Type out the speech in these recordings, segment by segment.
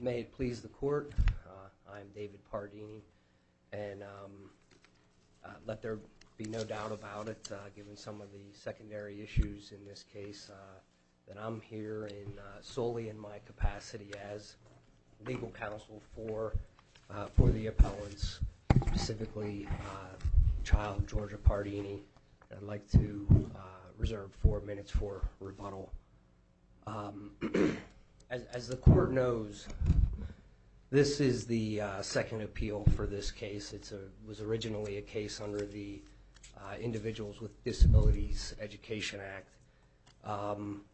May it please the court, I'm David Pardini, and let there be no doubt about it, given some of the secondary issues in this case, that I'm here solely in my capacity as legal counsel for the appellants, specifically child Georgia Pardini, I'd like to reserve four minutes for rebuttal. As the court knows, this is the second appeal for this case. It was originally a case under the Individuals with Disabilities Education Act.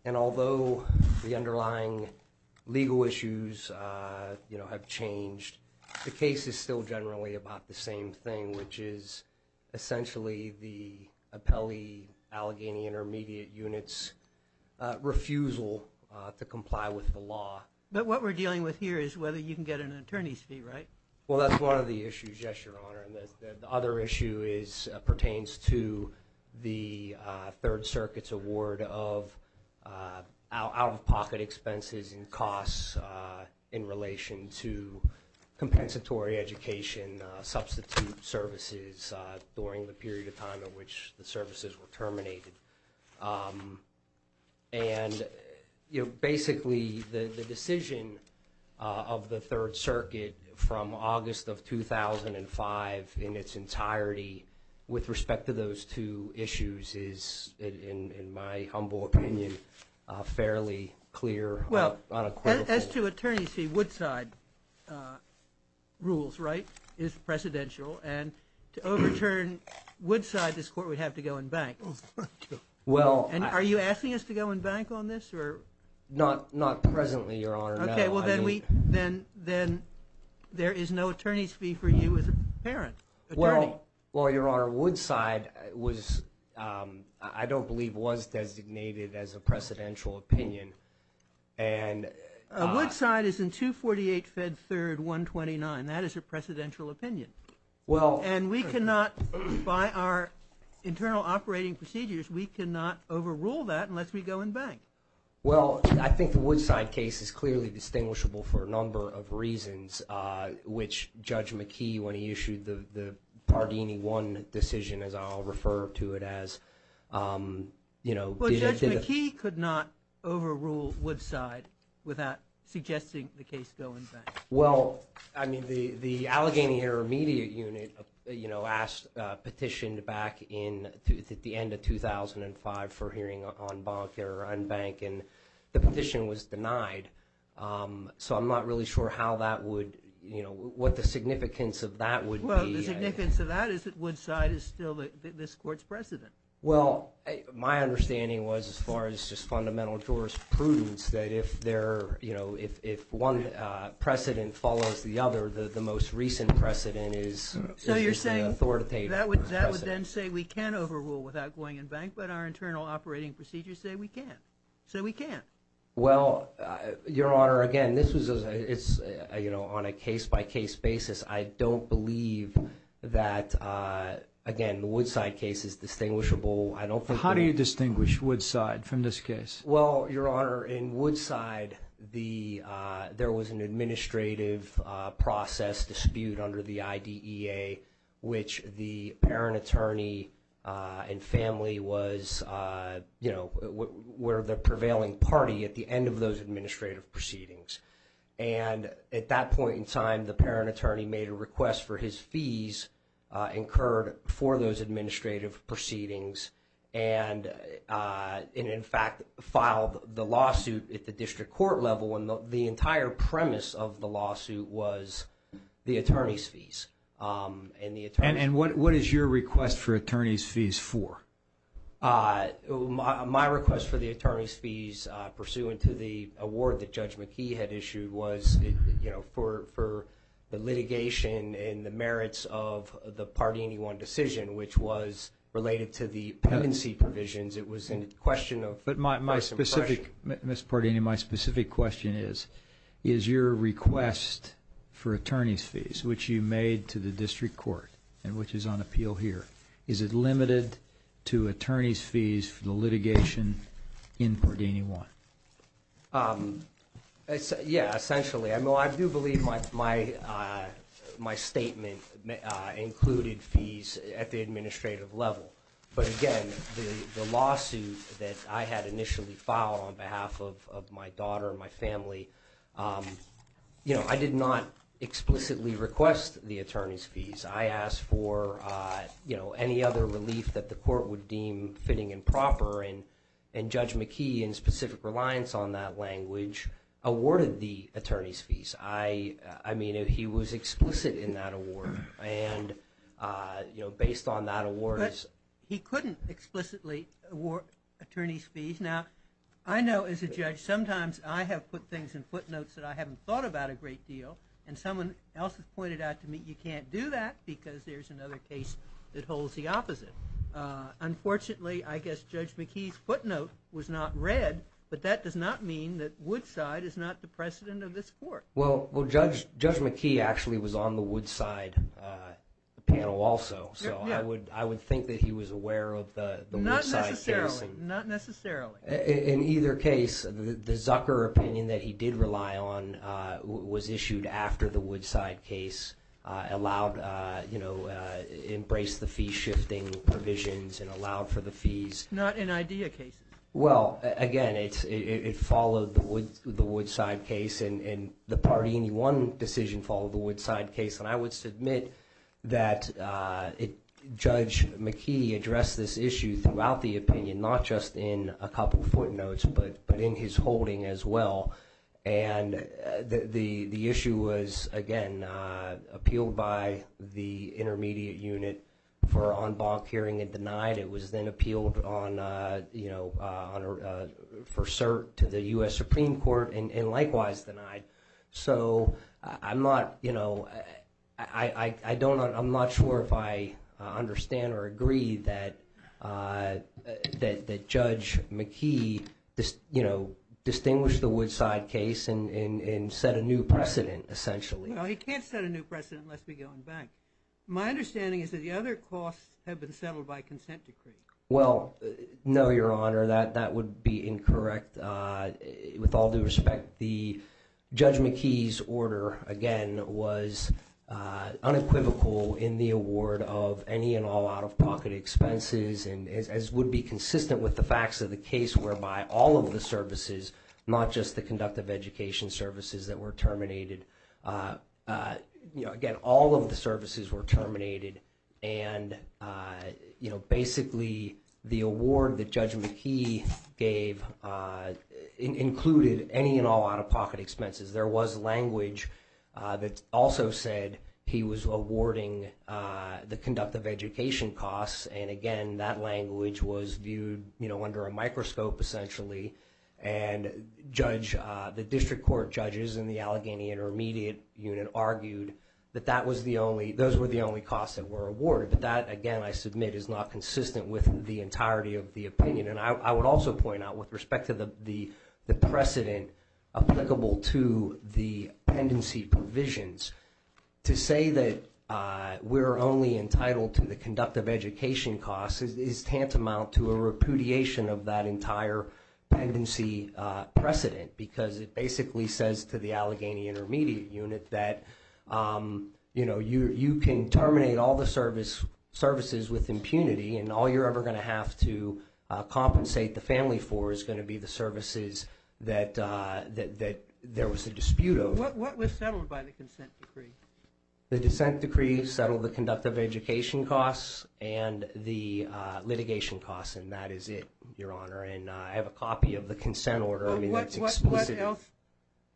And although the underlying legal issues have changed, the case is still generally about the same thing, which is essentially the Appellee Allegheny Intermediate unit's refusal to comply with the law. But what we're dealing with here is whether you can get an attorney's fee, right? Well that's one of the issues, yes, Your Honor. The other issue pertains to the Third Circuit's award of out-of-pocket expenses and costs in relation to compensatory education substitute services during the period of time in which the services were terminated. And, you know, basically the decision of the Third Circuit from August of 2005 in its entirety with respect to those two issues is, in my humble opinion, fairly clear. Well, as to attorney's fee, Woodside rules, right? And to overturn Woodside, this court would have to go and bank. And are you asking us to go and bank on this? Not presently, Your Honor, no. Okay, well then there is no attorney's fee for you as a parent. Well, Your Honor, Woodside was, I don't believe was designated as a precedential opinion. Woodside is in 248 Fed 3rd, 129. That is a precedential opinion. Well And we cannot, by our internal operating procedures, we cannot overrule that unless we go and bank. Well, I think the Woodside case is clearly distinguishable for a number of reasons, which Judge McKee, when he issued the Pardini 1 decision, as I'll refer to it as, you know Well, Judge McKee could not overrule Woodside without suggesting the case go and bank. Well, I mean, the Allegheny Intermediate Unit, you know, asked, petitioned back in, at the end of 2005 for hearing on bonk or unbank, and the petition was denied. So I'm not really sure how that would, you know, what the significance of that would be. Well, the significance of that is that Woodside is still this court's president. Well, my understanding was, as far as just fundamental jurisprudence, that if there, you know, if one precedent follows the other, the most recent precedent is the authoritative precedent. So you're saying, that would then say we can overrule without going and bank, but our internal operating procedures say we can't, say we can't. Well, Your Honor, again, this was, you know, on a case-by-case basis, I don't believe that, again, the Woodside case is distinguishable. How do you distinguish Woodside from this case? Well, Your Honor, in Woodside, the, there was an administrative process dispute under the IDEA, which the parent attorney and family was, you know, were the prevailing party at the end of those administrative proceedings. And at that point in time, the parent attorney made a request for his fees incurred for those administrative proceedings and, in fact, filed the lawsuit at the district court level. And the entire premise of the lawsuit was the attorney's fees. And the attorney's fees. And what is your request for attorney's fees for? My request for the attorney's fees, pursuant to the award that Judge McKee had issued, was, you know, for the litigation and the merits of the Pardini-Wong decision, which was related to the pendency provisions. It was in question of. But my specific, Mr. Pardini, my specific question is, is your request for attorney's fees, which you made to the district court and which is on appeal here, is it limited to attorney's fees for the litigation in Pardini-Wong? Yeah, essentially. I mean, I do believe my statement included fees at the administrative level. But, again, the lawsuit that I had initially filed on behalf of my daughter and my family, you know, I did not explicitly request the attorney's fees. I asked for, you know, any other relief that the court would deem fitting and proper. And Judge McKee, in specific reliance on that language, awarded the attorney's fees. I mean, he was explicit in that award. And, you know, based on that award is. He couldn't explicitly award attorney's fees. Now, I know as a judge, sometimes I have put things in footnotes that I haven't thought about a great deal. And someone else has pointed out to me, you can't do that because there's another case that holds the opposite. Unfortunately, I guess Judge McKee's footnote was not read. But that does not mean that Woodside is not the precedent of this court. Well, Judge McKee actually was on the Woodside panel also. So I would think that he was aware of the Woodside case. Not necessarily. In either case, the Zucker opinion that he did rely on was issued after the Woodside case allowed, you know, embraced the fee shifting provisions and allowed for the fees. Not in IDEA cases. Well, again, it followed the Woodside case. And the Pardini 1 decision followed the Woodside case. And I would submit that Judge McKee addressed this issue throughout the opinion, not just in a couple footnotes, but in his holding as well. And the issue was, again, appealed by the intermediate unit for en banc hearing and denied. It was then appealed on, you know, for cert to the U.S. Supreme Court and likewise denied. So I'm not, you know, I don't know, I'm not sure if I understand or agree that Judge McKee, you know, distinguished the Woodside case and set a new precedent essentially. Well, he can't set a new precedent unless we go en banc. My understanding is that the other costs have been settled by consent decree. Well, no, Your Honor, that would be incorrect. With all due respect, the Judge McKee's order, again, was unequivocal in the award of any and all out-of-pocket expenses as would be consistent with the facts of the case whereby all of the services, not just the conductive education services that were terminated. Again, all of the services were terminated. And, you know, basically the award that Judge McKee gave included any and all out-of-pocket expenses. There was language that also said he was awarding the conductive education costs. And, again, that language was viewed, you know, under a microscope essentially. And Judge, the district court judges in the Allegheny Intermediate Unit argued that that was the only, those were the only costs that were awarded. But that, again, I submit is not consistent with the entirety of the opinion. And I would also point out with respect to the precedent applicable to the pendency provisions, to say that we're only entitled to the conductive education costs is tantamount to a repudiation of that entire pendency precedent. Because it basically says to the Allegheny Intermediate Unit that, you know, you can terminate all the services with impunity and all you're ever going to have to compensate the family for is going to be the services that there was a dispute over. What was settled by the consent decree? The dissent decree settled the conductive education costs and the litigation costs, and that is it, Your Honor. And I have a copy of the consent order. I mean, that's explicit. What else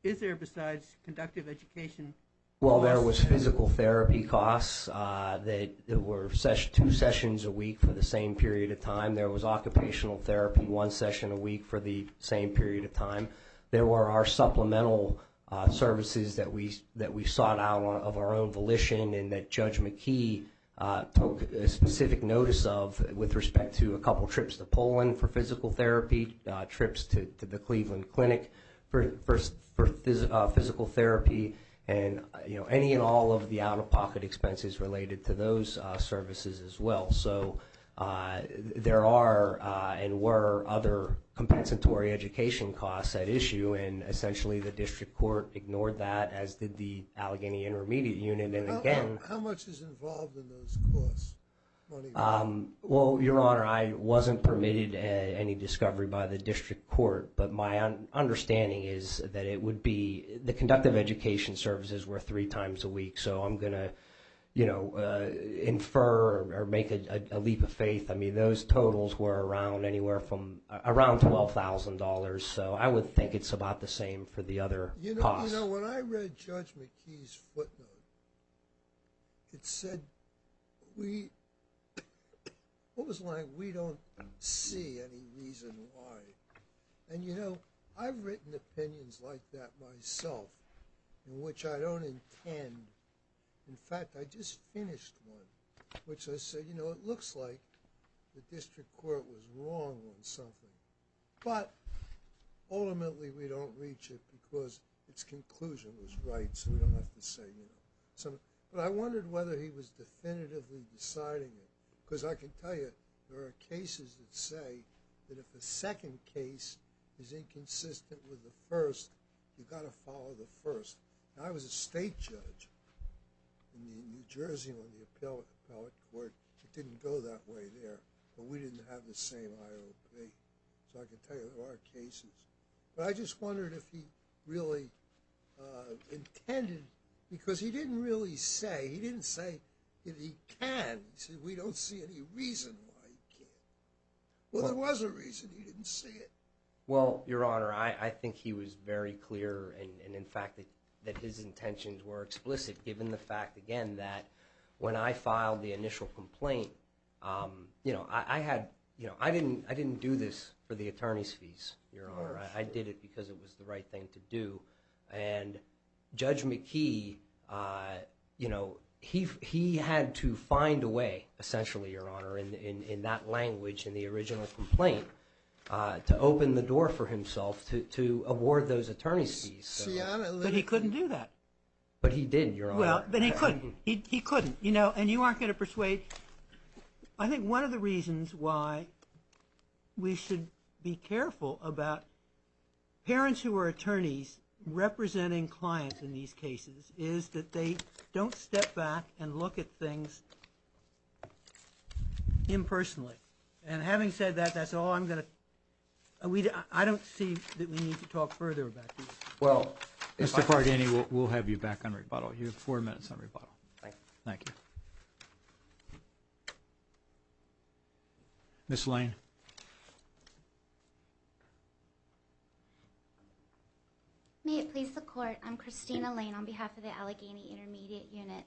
is there besides conductive education costs? Well, there was physical therapy costs that were two sessions a week for the same period of time. There was occupational therapy, one session a week for the same period of time. There were our supplemental services that we sought out of our own volition and that Judge McKee took specific notice of with respect to a couple trips to Poland for physical therapy, trips to the Cleveland Clinic for physical therapy, and, you know, any and all of the out-of-pocket expenses related to those services as well. So there are and were other compensatory education costs at issue, and essentially the district court ignored that, as did the Allegheny Intermediate Unit, and again— How much is involved in those costs? Well, Your Honor, I wasn't permitted any discovery by the district court, but my understanding is that it would be—the conductive education services were three times a week, so I'm going to, you know, infer or make a leap of faith. I mean, those totals were around anywhere from—around $12,000, so I would think it's about the same for the other costs. You know, when I read Judge McKee's footnote, it said we—it was like we don't see any reason why. And, you know, I've written opinions like that myself, in which I don't intend—in fact, I just finished one, which I said, you know, it looks like the district court was wrong on something, but ultimately we don't reach it because its conclusion was right, so we don't have to say, you know, something. But I wondered whether he was definitively deciding it, because I can tell you there are cases that say that if a second case is inconsistent with the first, you've got to follow the first. And I was a state judge in New Jersey on the appellate court. It didn't go that way there, but we didn't have the same IOP, so I can tell you there are cases. But I just wondered if he really intended—because he didn't really say—he didn't say that he can. He said we don't see any reason why he can't. Well, there was a reason he didn't say it. Well, Your Honor, I think he was very clear, and in fact that his intentions were explicit, given the fact, again, that when I filed the initial complaint, you know, I had—you know, I didn't do this for the attorney's fees, Your Honor. Of course. I did it because it was the right thing to do. And Judge McKee, you know, he had to find a way, essentially, Your Honor, in that language, in the original complaint, to open the door for himself to award those attorney's fees. But he couldn't do that. But he did, Your Honor. Well, but he couldn't. He couldn't. You know, and you aren't going to persuade. I think one of the reasons why we should be careful about parents who are attorneys representing clients in these cases is that they don't step back and look at things impersonally. And having said that, that's all I'm going to—I don't see that we need to talk further about this. Well— Mr. Fargani, we'll have you back on rebuttal. You have four minutes on rebuttal. Thank you. Thank you. Ms. Lane. May it please the Court, I'm Christina Lane on behalf of the Allegheny Intermediate Unit.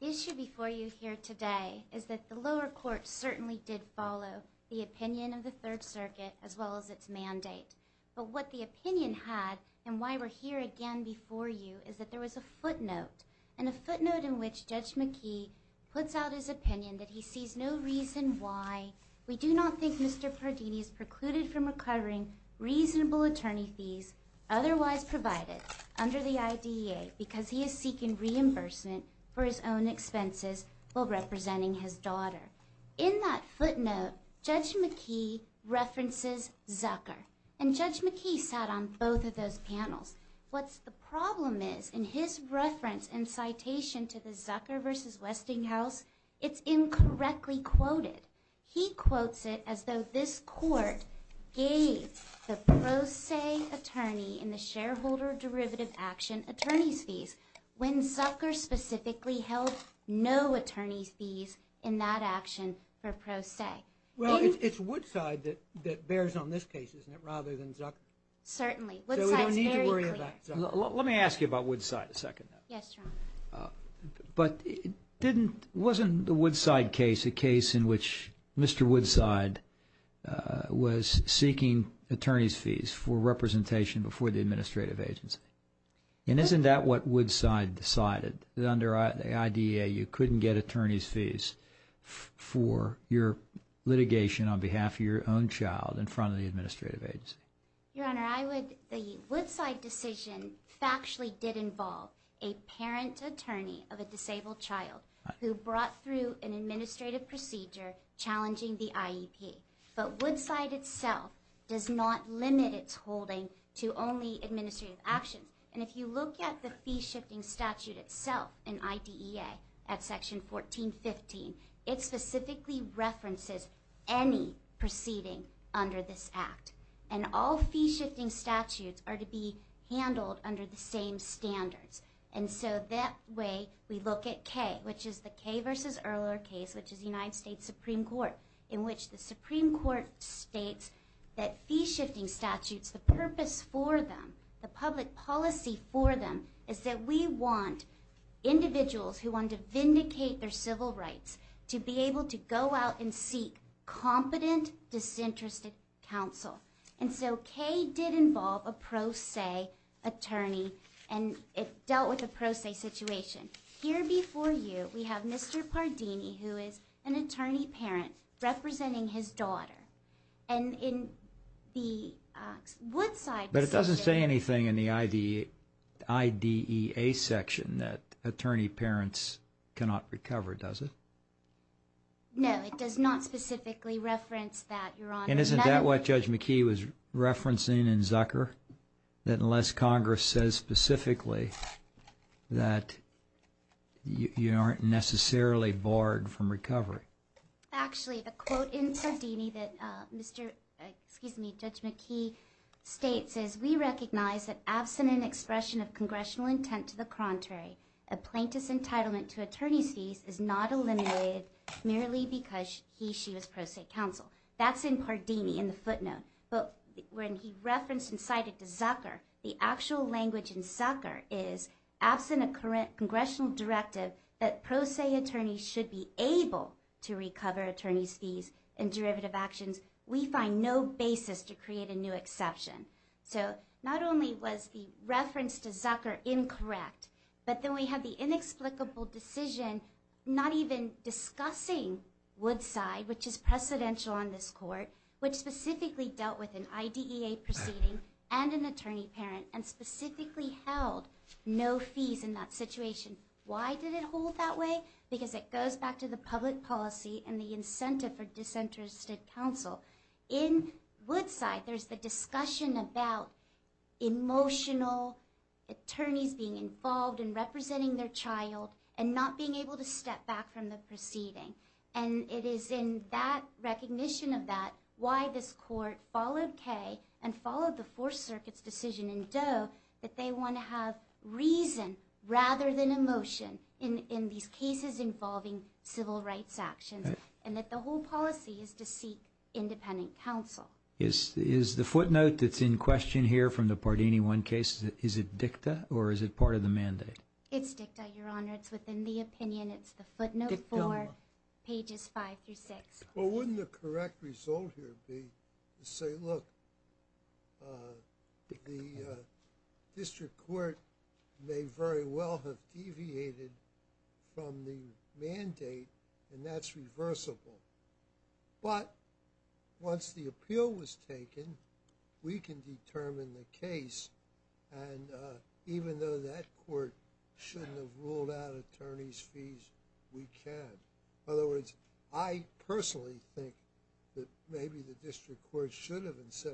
The issue before you here today is that the lower court certainly did follow the opinion of the Third Circuit as well as its mandate. But what the opinion had and why we're here again before you is that there was a footnote. And a footnote in which Judge McKee puts out his opinion that he sees no reason why we do not think Mr. Pardini is precluded from recovering reasonable attorney fees otherwise provided under the IDEA because he is seeking reimbursement for his own expenses while representing his daughter. In that footnote, Judge McKee references Zucker. And Judge McKee sat on both of those panels. What the problem is in his reference and citation to the Zucker versus Westinghouse, it's incorrectly quoted. He quotes it as though this court gave the pro se attorney in the shareholder derivative action attorney's fees when Zucker specifically held no attorney's fees in that action for pro se. Well, it's Woodside that bears on this case, isn't it, rather than Zucker? Certainly. Woodside is very clear. So we don't need to worry about Zucker. Let me ask you about Woodside a second. Yes, Your Honor. But wasn't the Woodside case a case in which Mr. Woodside was seeking attorney's fees for representation before the administrative agency? And isn't that what Woodside decided that under the IDEA you couldn't get attorney's fees for your litigation on behalf of your own child in front of the administrative agency? Your Honor, the Woodside decision factually did involve a parent attorney of a disabled child who brought through an administrative procedure challenging the IEP. But Woodside itself does not limit its holding to only administrative actions. And if you look at the fee-shifting statute itself in IDEA at section 1415, it specifically references any proceeding under this act. And all fee-shifting statutes are to be handled under the same standards. And so that way we look at K, which is the K v. Erler case, which is the United States Supreme Court, in which the Supreme Court states that fee-shifting statutes, the purpose for them, the public policy for them, is that we want individuals who want to vindicate their civil rights to be able to go out and seek competent, disinterested counsel. And so K did involve a pro se attorney, and it dealt with a pro se situation. Here before you, we have Mr. Pardini, who is an attorney parent representing his daughter. And in the Woodside decision... No, it does not specifically reference that, Your Honor. And isn't that what Judge McKee was referencing in Zucker, that unless Congress says specifically that you aren't necessarily barred from recovery? Actually, the quote in Pardini that Judge McKee states is, we recognize that absent an expression of congressional intent to the contrary, a plaintiff's entitlement to attorney's fees is not eliminated merely because he, she was pro se counsel. That's in Pardini in the footnote. But when he referenced and cited Zucker, the actual language in Zucker is, absent a congressional directive that pro se attorneys should be able to recover attorney's fees and derivative actions, we find no basis to create a new exception. So not only was the reference to Zucker incorrect, but then we have the inexplicable decision not even discussing Woodside, which is precedential on this court, which specifically dealt with an IDEA proceeding and an attorney parent, and specifically held no fees in that situation. Why did it hold that way? Because it goes back to the public policy and the incentive for disinterested counsel. In Woodside, there's the discussion about emotional attorneys being involved in representing their child and not being able to step back from the proceeding. And it is in that recognition of that why this court followed Kay and followed the Fourth Circuit's decision in Doe that they want to have reason rather than emotion in these cases involving civil rights actions. And that the whole policy is to seek independent counsel. Is the footnote that's in question here from the Pardini 1 case, is it dicta or is it part of the mandate? It's dicta, Your Honor. It's within the opinion. It's the footnote 4, pages 5 through 6. Well, wouldn't the correct result here be to say, look, the district court may very well have deviated from the mandate and that's reversible. But once the appeal was taken, we can determine the case. And even though that court shouldn't have ruled out attorney's fees, we can. In other words, I personally think that maybe the district court should have said,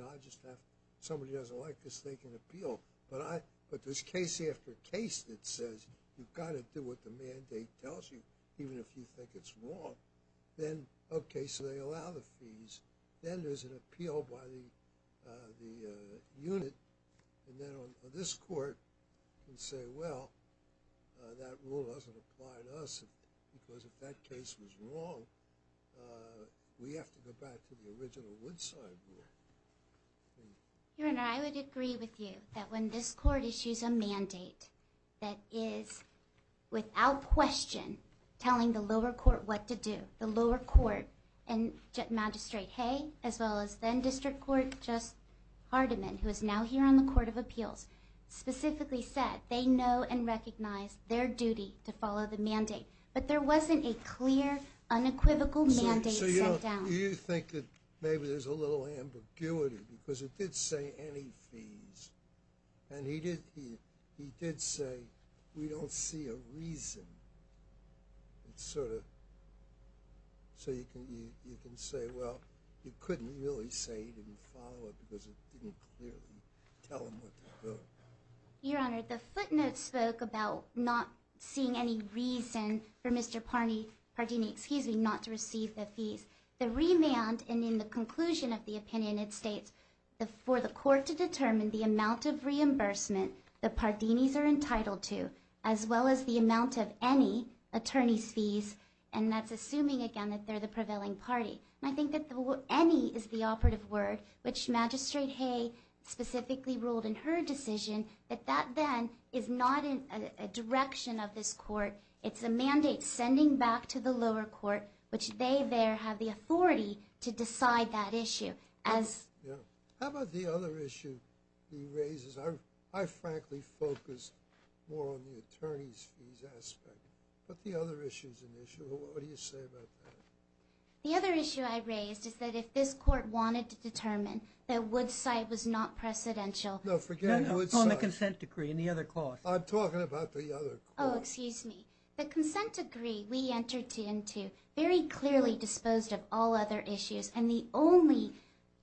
somebody doesn't like this, they can appeal. But there's case after case that says you've got to do what the mandate tells you, even if you think it's wrong. Then, okay, so they allow the fees. Then there's an appeal by the unit. And then this court can say, well, that rule doesn't apply to us because if that case was wrong, we have to go back to the original Woodside rule. Your Honor, I would agree with you that when this court issues a mandate that is without question telling the lower court what to do, the lower court and Magistrate Hay as well as then district court Just Hardiman, who is now here on the Court of Appeals, specifically said they know and recognize their duty to follow the mandate. But there wasn't a clear, unequivocal mandate set down. So you think that maybe there's a little ambiguity because it did say any fees. And he did say, we don't see a reason. So you can say, well, you couldn't really say he didn't follow it because it didn't clearly tell him what to do. Your Honor, the footnotes spoke about not seeing any reason for Mr. Pardini not to receive the fees. The remand in the conclusion of the opinion, it states, for the court to determine the amount of reimbursement the Pardinis are entitled to as well as the amount of any attorney's fees, and that's assuming, again, that they're the prevailing party. And I think that any is the operative word, which Magistrate Hay specifically ruled in her decision, that that then is not a direction of this court. It's a mandate sending back to the lower court, which they there have the authority to decide that issue. How about the other issue he raises? I frankly focus more on the attorney's fees aspect. But the other issue is an issue. What do you say about that? The other issue I raised is that if this court wanted to determine that Wood's site was not precedential. No, forget Wood's site. No, no, on the consent decree and the other clause. I'm talking about the other clause. Oh, excuse me. The consent decree we entered into very clearly disposed of all other issues, and the only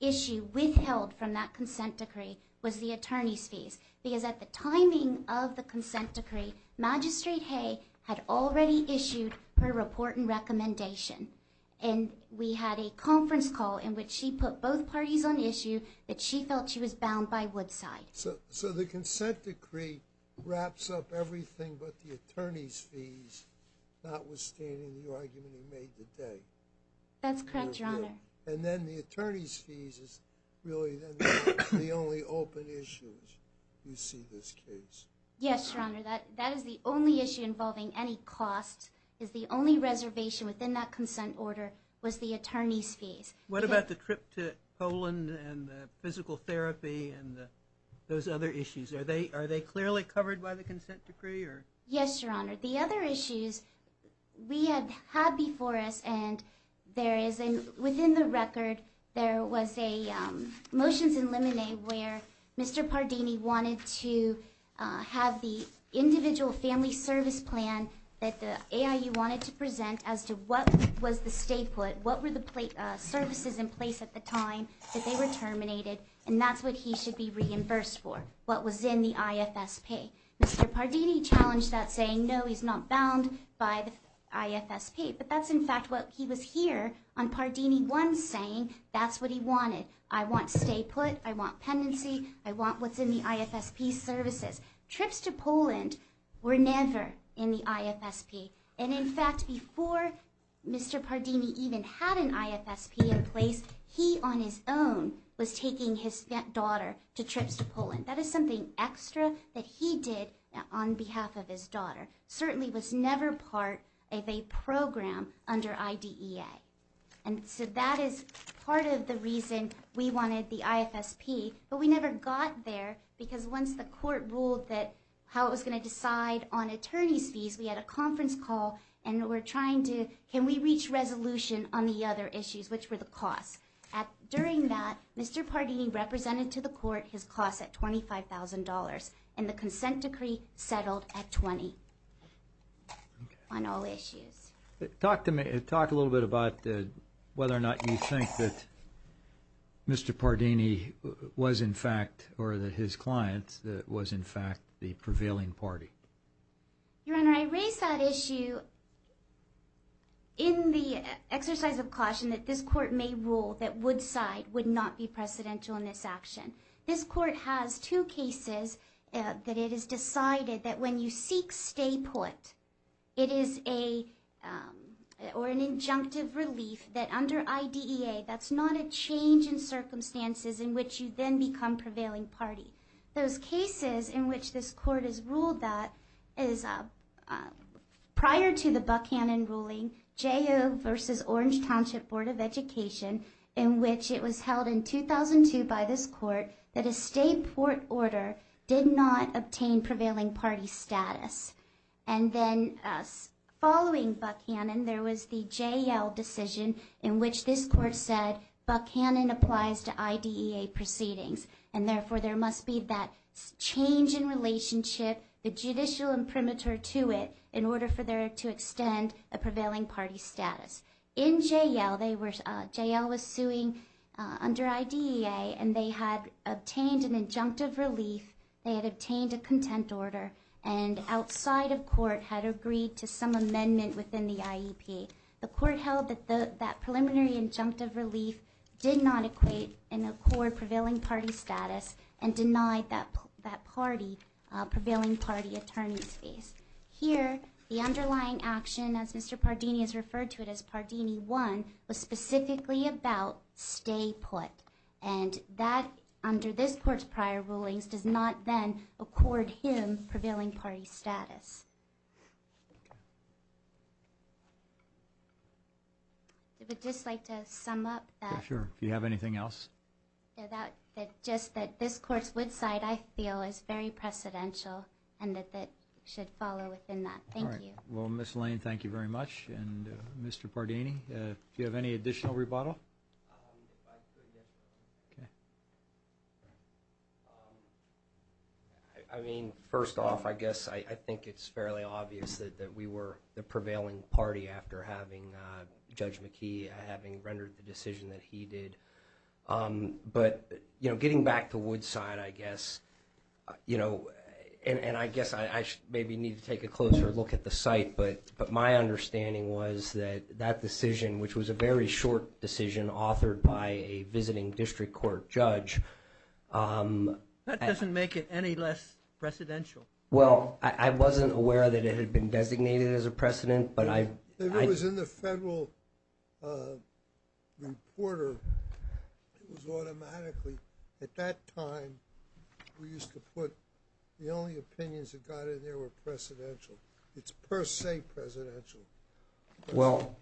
issue withheld from that consent decree was the attorney's fees because at the timing of the consent decree, Magistrate Hay had already issued her report and recommendation. And we had a conference call in which she put both parties on issue that she felt she was bound by Wood's site. So the consent decree wraps up everything but the attorney's fees, notwithstanding the argument he made today? That's correct, Your Honor. And then the attorney's fees is really the only open issue you see in this case. Yes, Your Honor. That is the only issue involving any cost is the only reservation within that consent order was the attorney's fees. What about the trip to Poland and the physical therapy and those other issues? Are they clearly covered by the consent decree? Yes, Your Honor. The other issues we had before us, and there is within the record, there was a motions in limine where Mr. Pardini wanted to have the individual family service plan that the AIU wanted to present as to what was the stay put, what were the services in place at the time that they were terminated, and that's what he should be reimbursed for, what was in the IFSP. Mr. Pardini challenged that saying, no, he's not bound by the IFSP, but that's in fact what he was here on Pardini 1 saying that's what he wanted. I want stay put. I want pendency. I want what's in the IFSP services. Trips to Poland were never in the IFSP, and in fact, before Mr. Pardini even had an IFSP in place, he on his own was taking his daughter to trips to Poland. That is something extra that he did on behalf of his daughter, certainly was never part of a program under IDEA, and so that is part of the reason we wanted the IFSP, but we never got there because once the court ruled that how it was going to decide on attorney's fees, we had a conference call, and we're trying to can we reach resolution on the other issues, which were the costs. During that, Mr. Pardini represented to the court his costs at $25,000, and the consent decree settled at 20 on all issues. Talk a little bit about whether or not you think that Mr. Pardini was in fact or that his clients was in fact the prevailing party. Your Honor, I raise that issue in the exercise of caution that this court may rule that Woodside would not be precedential in this action. This court has two cases that it has decided that when you seek stay put, it is an injunctive relief that under IDEA, that's not a change in circumstances in which you then become prevailing party. Those cases in which this court has ruled that is prior to the Buckhannon ruling, J.O. versus Orange Township Board of Education, in which it was held in 2002 by this court, that a stay put order did not obtain prevailing party status. And then following Buckhannon, there was the J.L. decision in which this court said, Buckhannon applies to IDEA proceedings, and therefore there must be that change in relationship, the judicial imprimatur to it, in order for there to extend a prevailing party status. In J.L., J.L. was suing under IDEA, and they had obtained an injunctive relief, they had obtained a content order, and outside of court had agreed to some amendment within the IEP. The court held that that preliminary injunctive relief did not equate and accord prevailing party status, and denied that prevailing party attorney's case. Here, the underlying action, as Mr. Pardini has referred to it as Pardini 1, was specifically about stay put. And that, under this court's prior rulings, does not then accord him prevailing party status. I would just like to sum up that. Sure, if you have anything else. That just that this court's Woodside, I feel, is very precedential, and that that should follow within that. Thank you. All right. Well, Ms. Lane, thank you very much. And Mr. Pardini, do you have any additional rebuttal? I mean, first off, I guess I think it's fairly obvious that we were the prevailing party after having Judge McKee, having rendered the decision that he did. But, you know, getting back to Woodside, I guess, you know, and I guess I maybe need to take a closer look at the site, but my understanding was that that decision, which was a very short decision authored by a visiting district court judge... That doesn't make it any less precedential. Well, I wasn't aware that it had been designated as a precedent, but I... It was in the federal reporter. It was automatically, at that time, we used to put the only opinions that got in there were precedential. It's per se precedential. Well,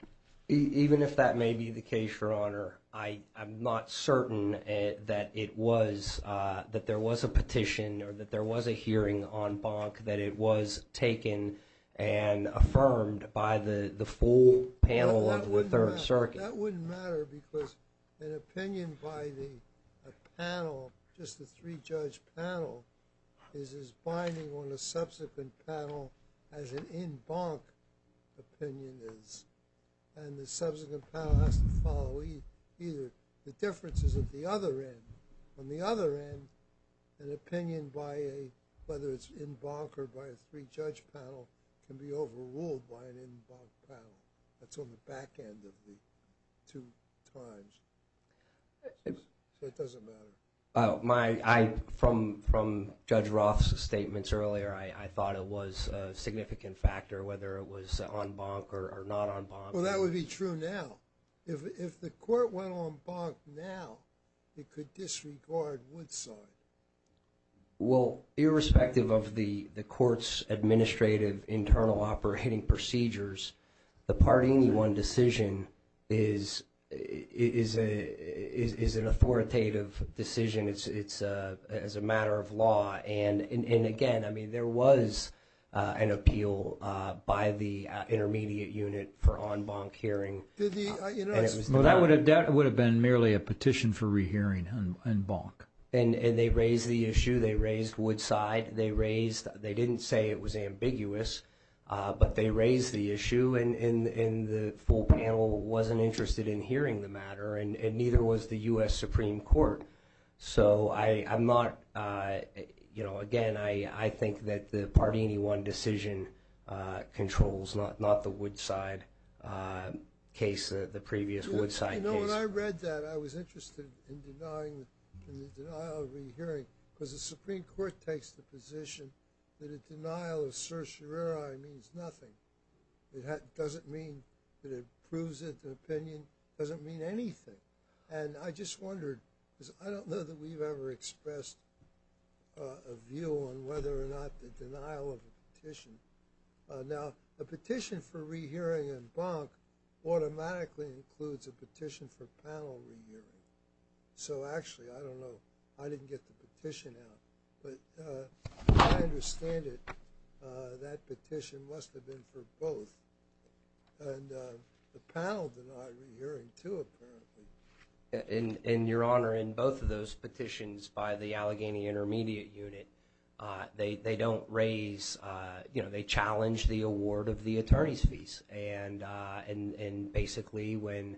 even if that may be the case, Your Honor, I'm not certain that it was, that there was a petition or that there was a hearing on Bonk that it was taken and affirmed by the full panel of the Third Circuit. That wouldn't matter because an opinion by the panel, just the three-judge panel, is as binding on a subsequent panel as an in Bonk opinion is. And the subsequent panel has to follow either. The difference is at the other end. On the other end, an opinion by a, whether it's in Bonk or by a three-judge panel, can be overruled by an in Bonk panel. That's on the back end of the two times. So it doesn't matter. From Judge Roth's statements earlier, I thought it was a significant factor whether it was on Bonk or not on Bonk. Well, that would be true now. If the court went on Bonk now, it could disregard Woodside. Well, irrespective of the court's administrative internal operating procedures, the Part 81 decision is an authoritative decision. It's a matter of law. And again, I mean, there was an appeal by the intermediate unit for on Bonk hearing. Well, that would have been merely a petition for rehearing in Bonk. And they raised the issue. They raised Woodside. They raised, they didn't say it was ambiguous, but they raised the issue. And the full panel wasn't interested in hearing the matter, and neither was the U.S. Supreme Court. So I'm not, you know, again, I think that the Part 81 decision controls, not the Woodside case, the previous Woodside case. You know, when I read that, I was interested in denying, in the denial of rehearing, because the Supreme Court takes the position that a denial of certiorari means nothing. It doesn't mean that it proves it's an opinion. It doesn't mean anything. And I just wondered, because I don't know that we've ever expressed a view on whether or not the denial of a petition. Now, a petition for rehearing in Bonk automatically includes a petition for panel rehearing. So actually, I don't know, I didn't get the petition out, but I understand it. That petition must have been for both. And the panel denied rehearing, too, apparently. And, Your Honor, in both of those petitions by the Allegheny Intermediate Unit, they don't raise, you know, they challenge the award of the attorney's fees. And basically, when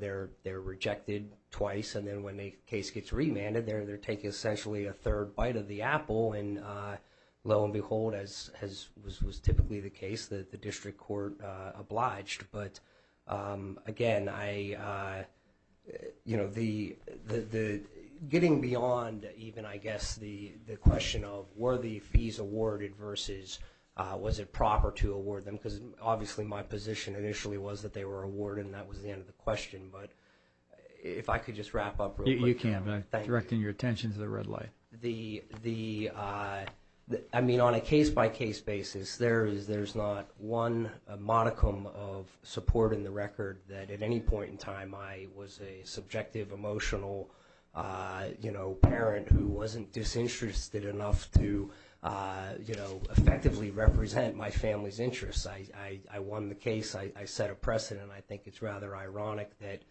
they're rejected twice, and then when a case gets remanded, they're taking essentially a third bite of the apple. And lo and behold, as was typically the case, the district court obliged. But again, you know, getting beyond even, I guess, the question of, were the fees awarded versus was it proper to award them? Because obviously my position initially was that they were awarded, and that was the end of the question. But if I could just wrap up real quick. You can, but I'm directing your attention to the red light. I mean, on a case-by-case basis, there's not one modicum of support in the record that at any point in time, I was a subjective, emotional, you know, parent who wasn't disinterested enough to, you know, effectively represent my family's interests. I won the case. I set a precedent. I think it's rather ironic that,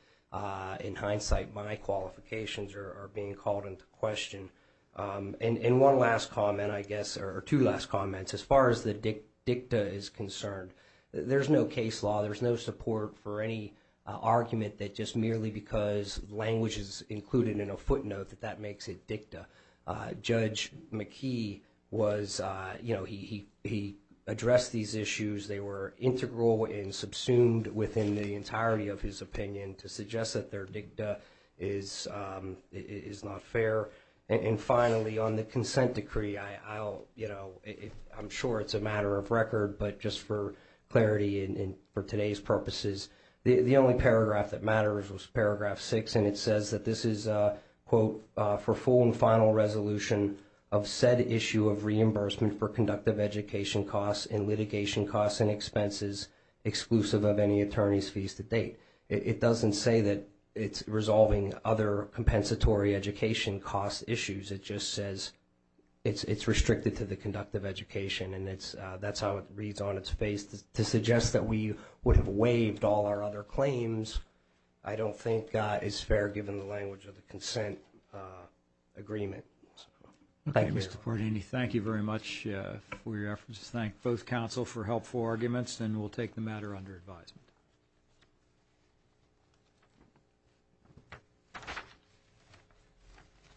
in hindsight, my qualifications are being called into question. And one last comment, I guess, or two last comments, as far as the dicta is concerned, there's no case law. There's no support for any argument that just merely because language is included in a footnote that that makes it dicta. Judge McKee was, you know, he addressed these issues. They were integral and subsumed within the entirety of his opinion to suggest that their dicta is not fair. And finally, on the consent decree, I'll, you know, I'm sure it's a matter of record, but just for clarity and for today's purposes, the only paragraph that matters was Paragraph 6, and it says that this is, quote, for full and final resolution of said issue of reimbursement for conductive education costs and litigation costs and expenses exclusive of any attorney's fees to date. It doesn't say that it's resolving other compensatory education cost issues. It just says it's restricted to the conductive education, and that's how it reads on its face. To suggest that we would have waived all our other claims I don't think is fair, given the language of the consent agreement. Thank you. Thank you very much for your efforts. Thank both counsel for helpful arguments, and we'll take the matter under advisement.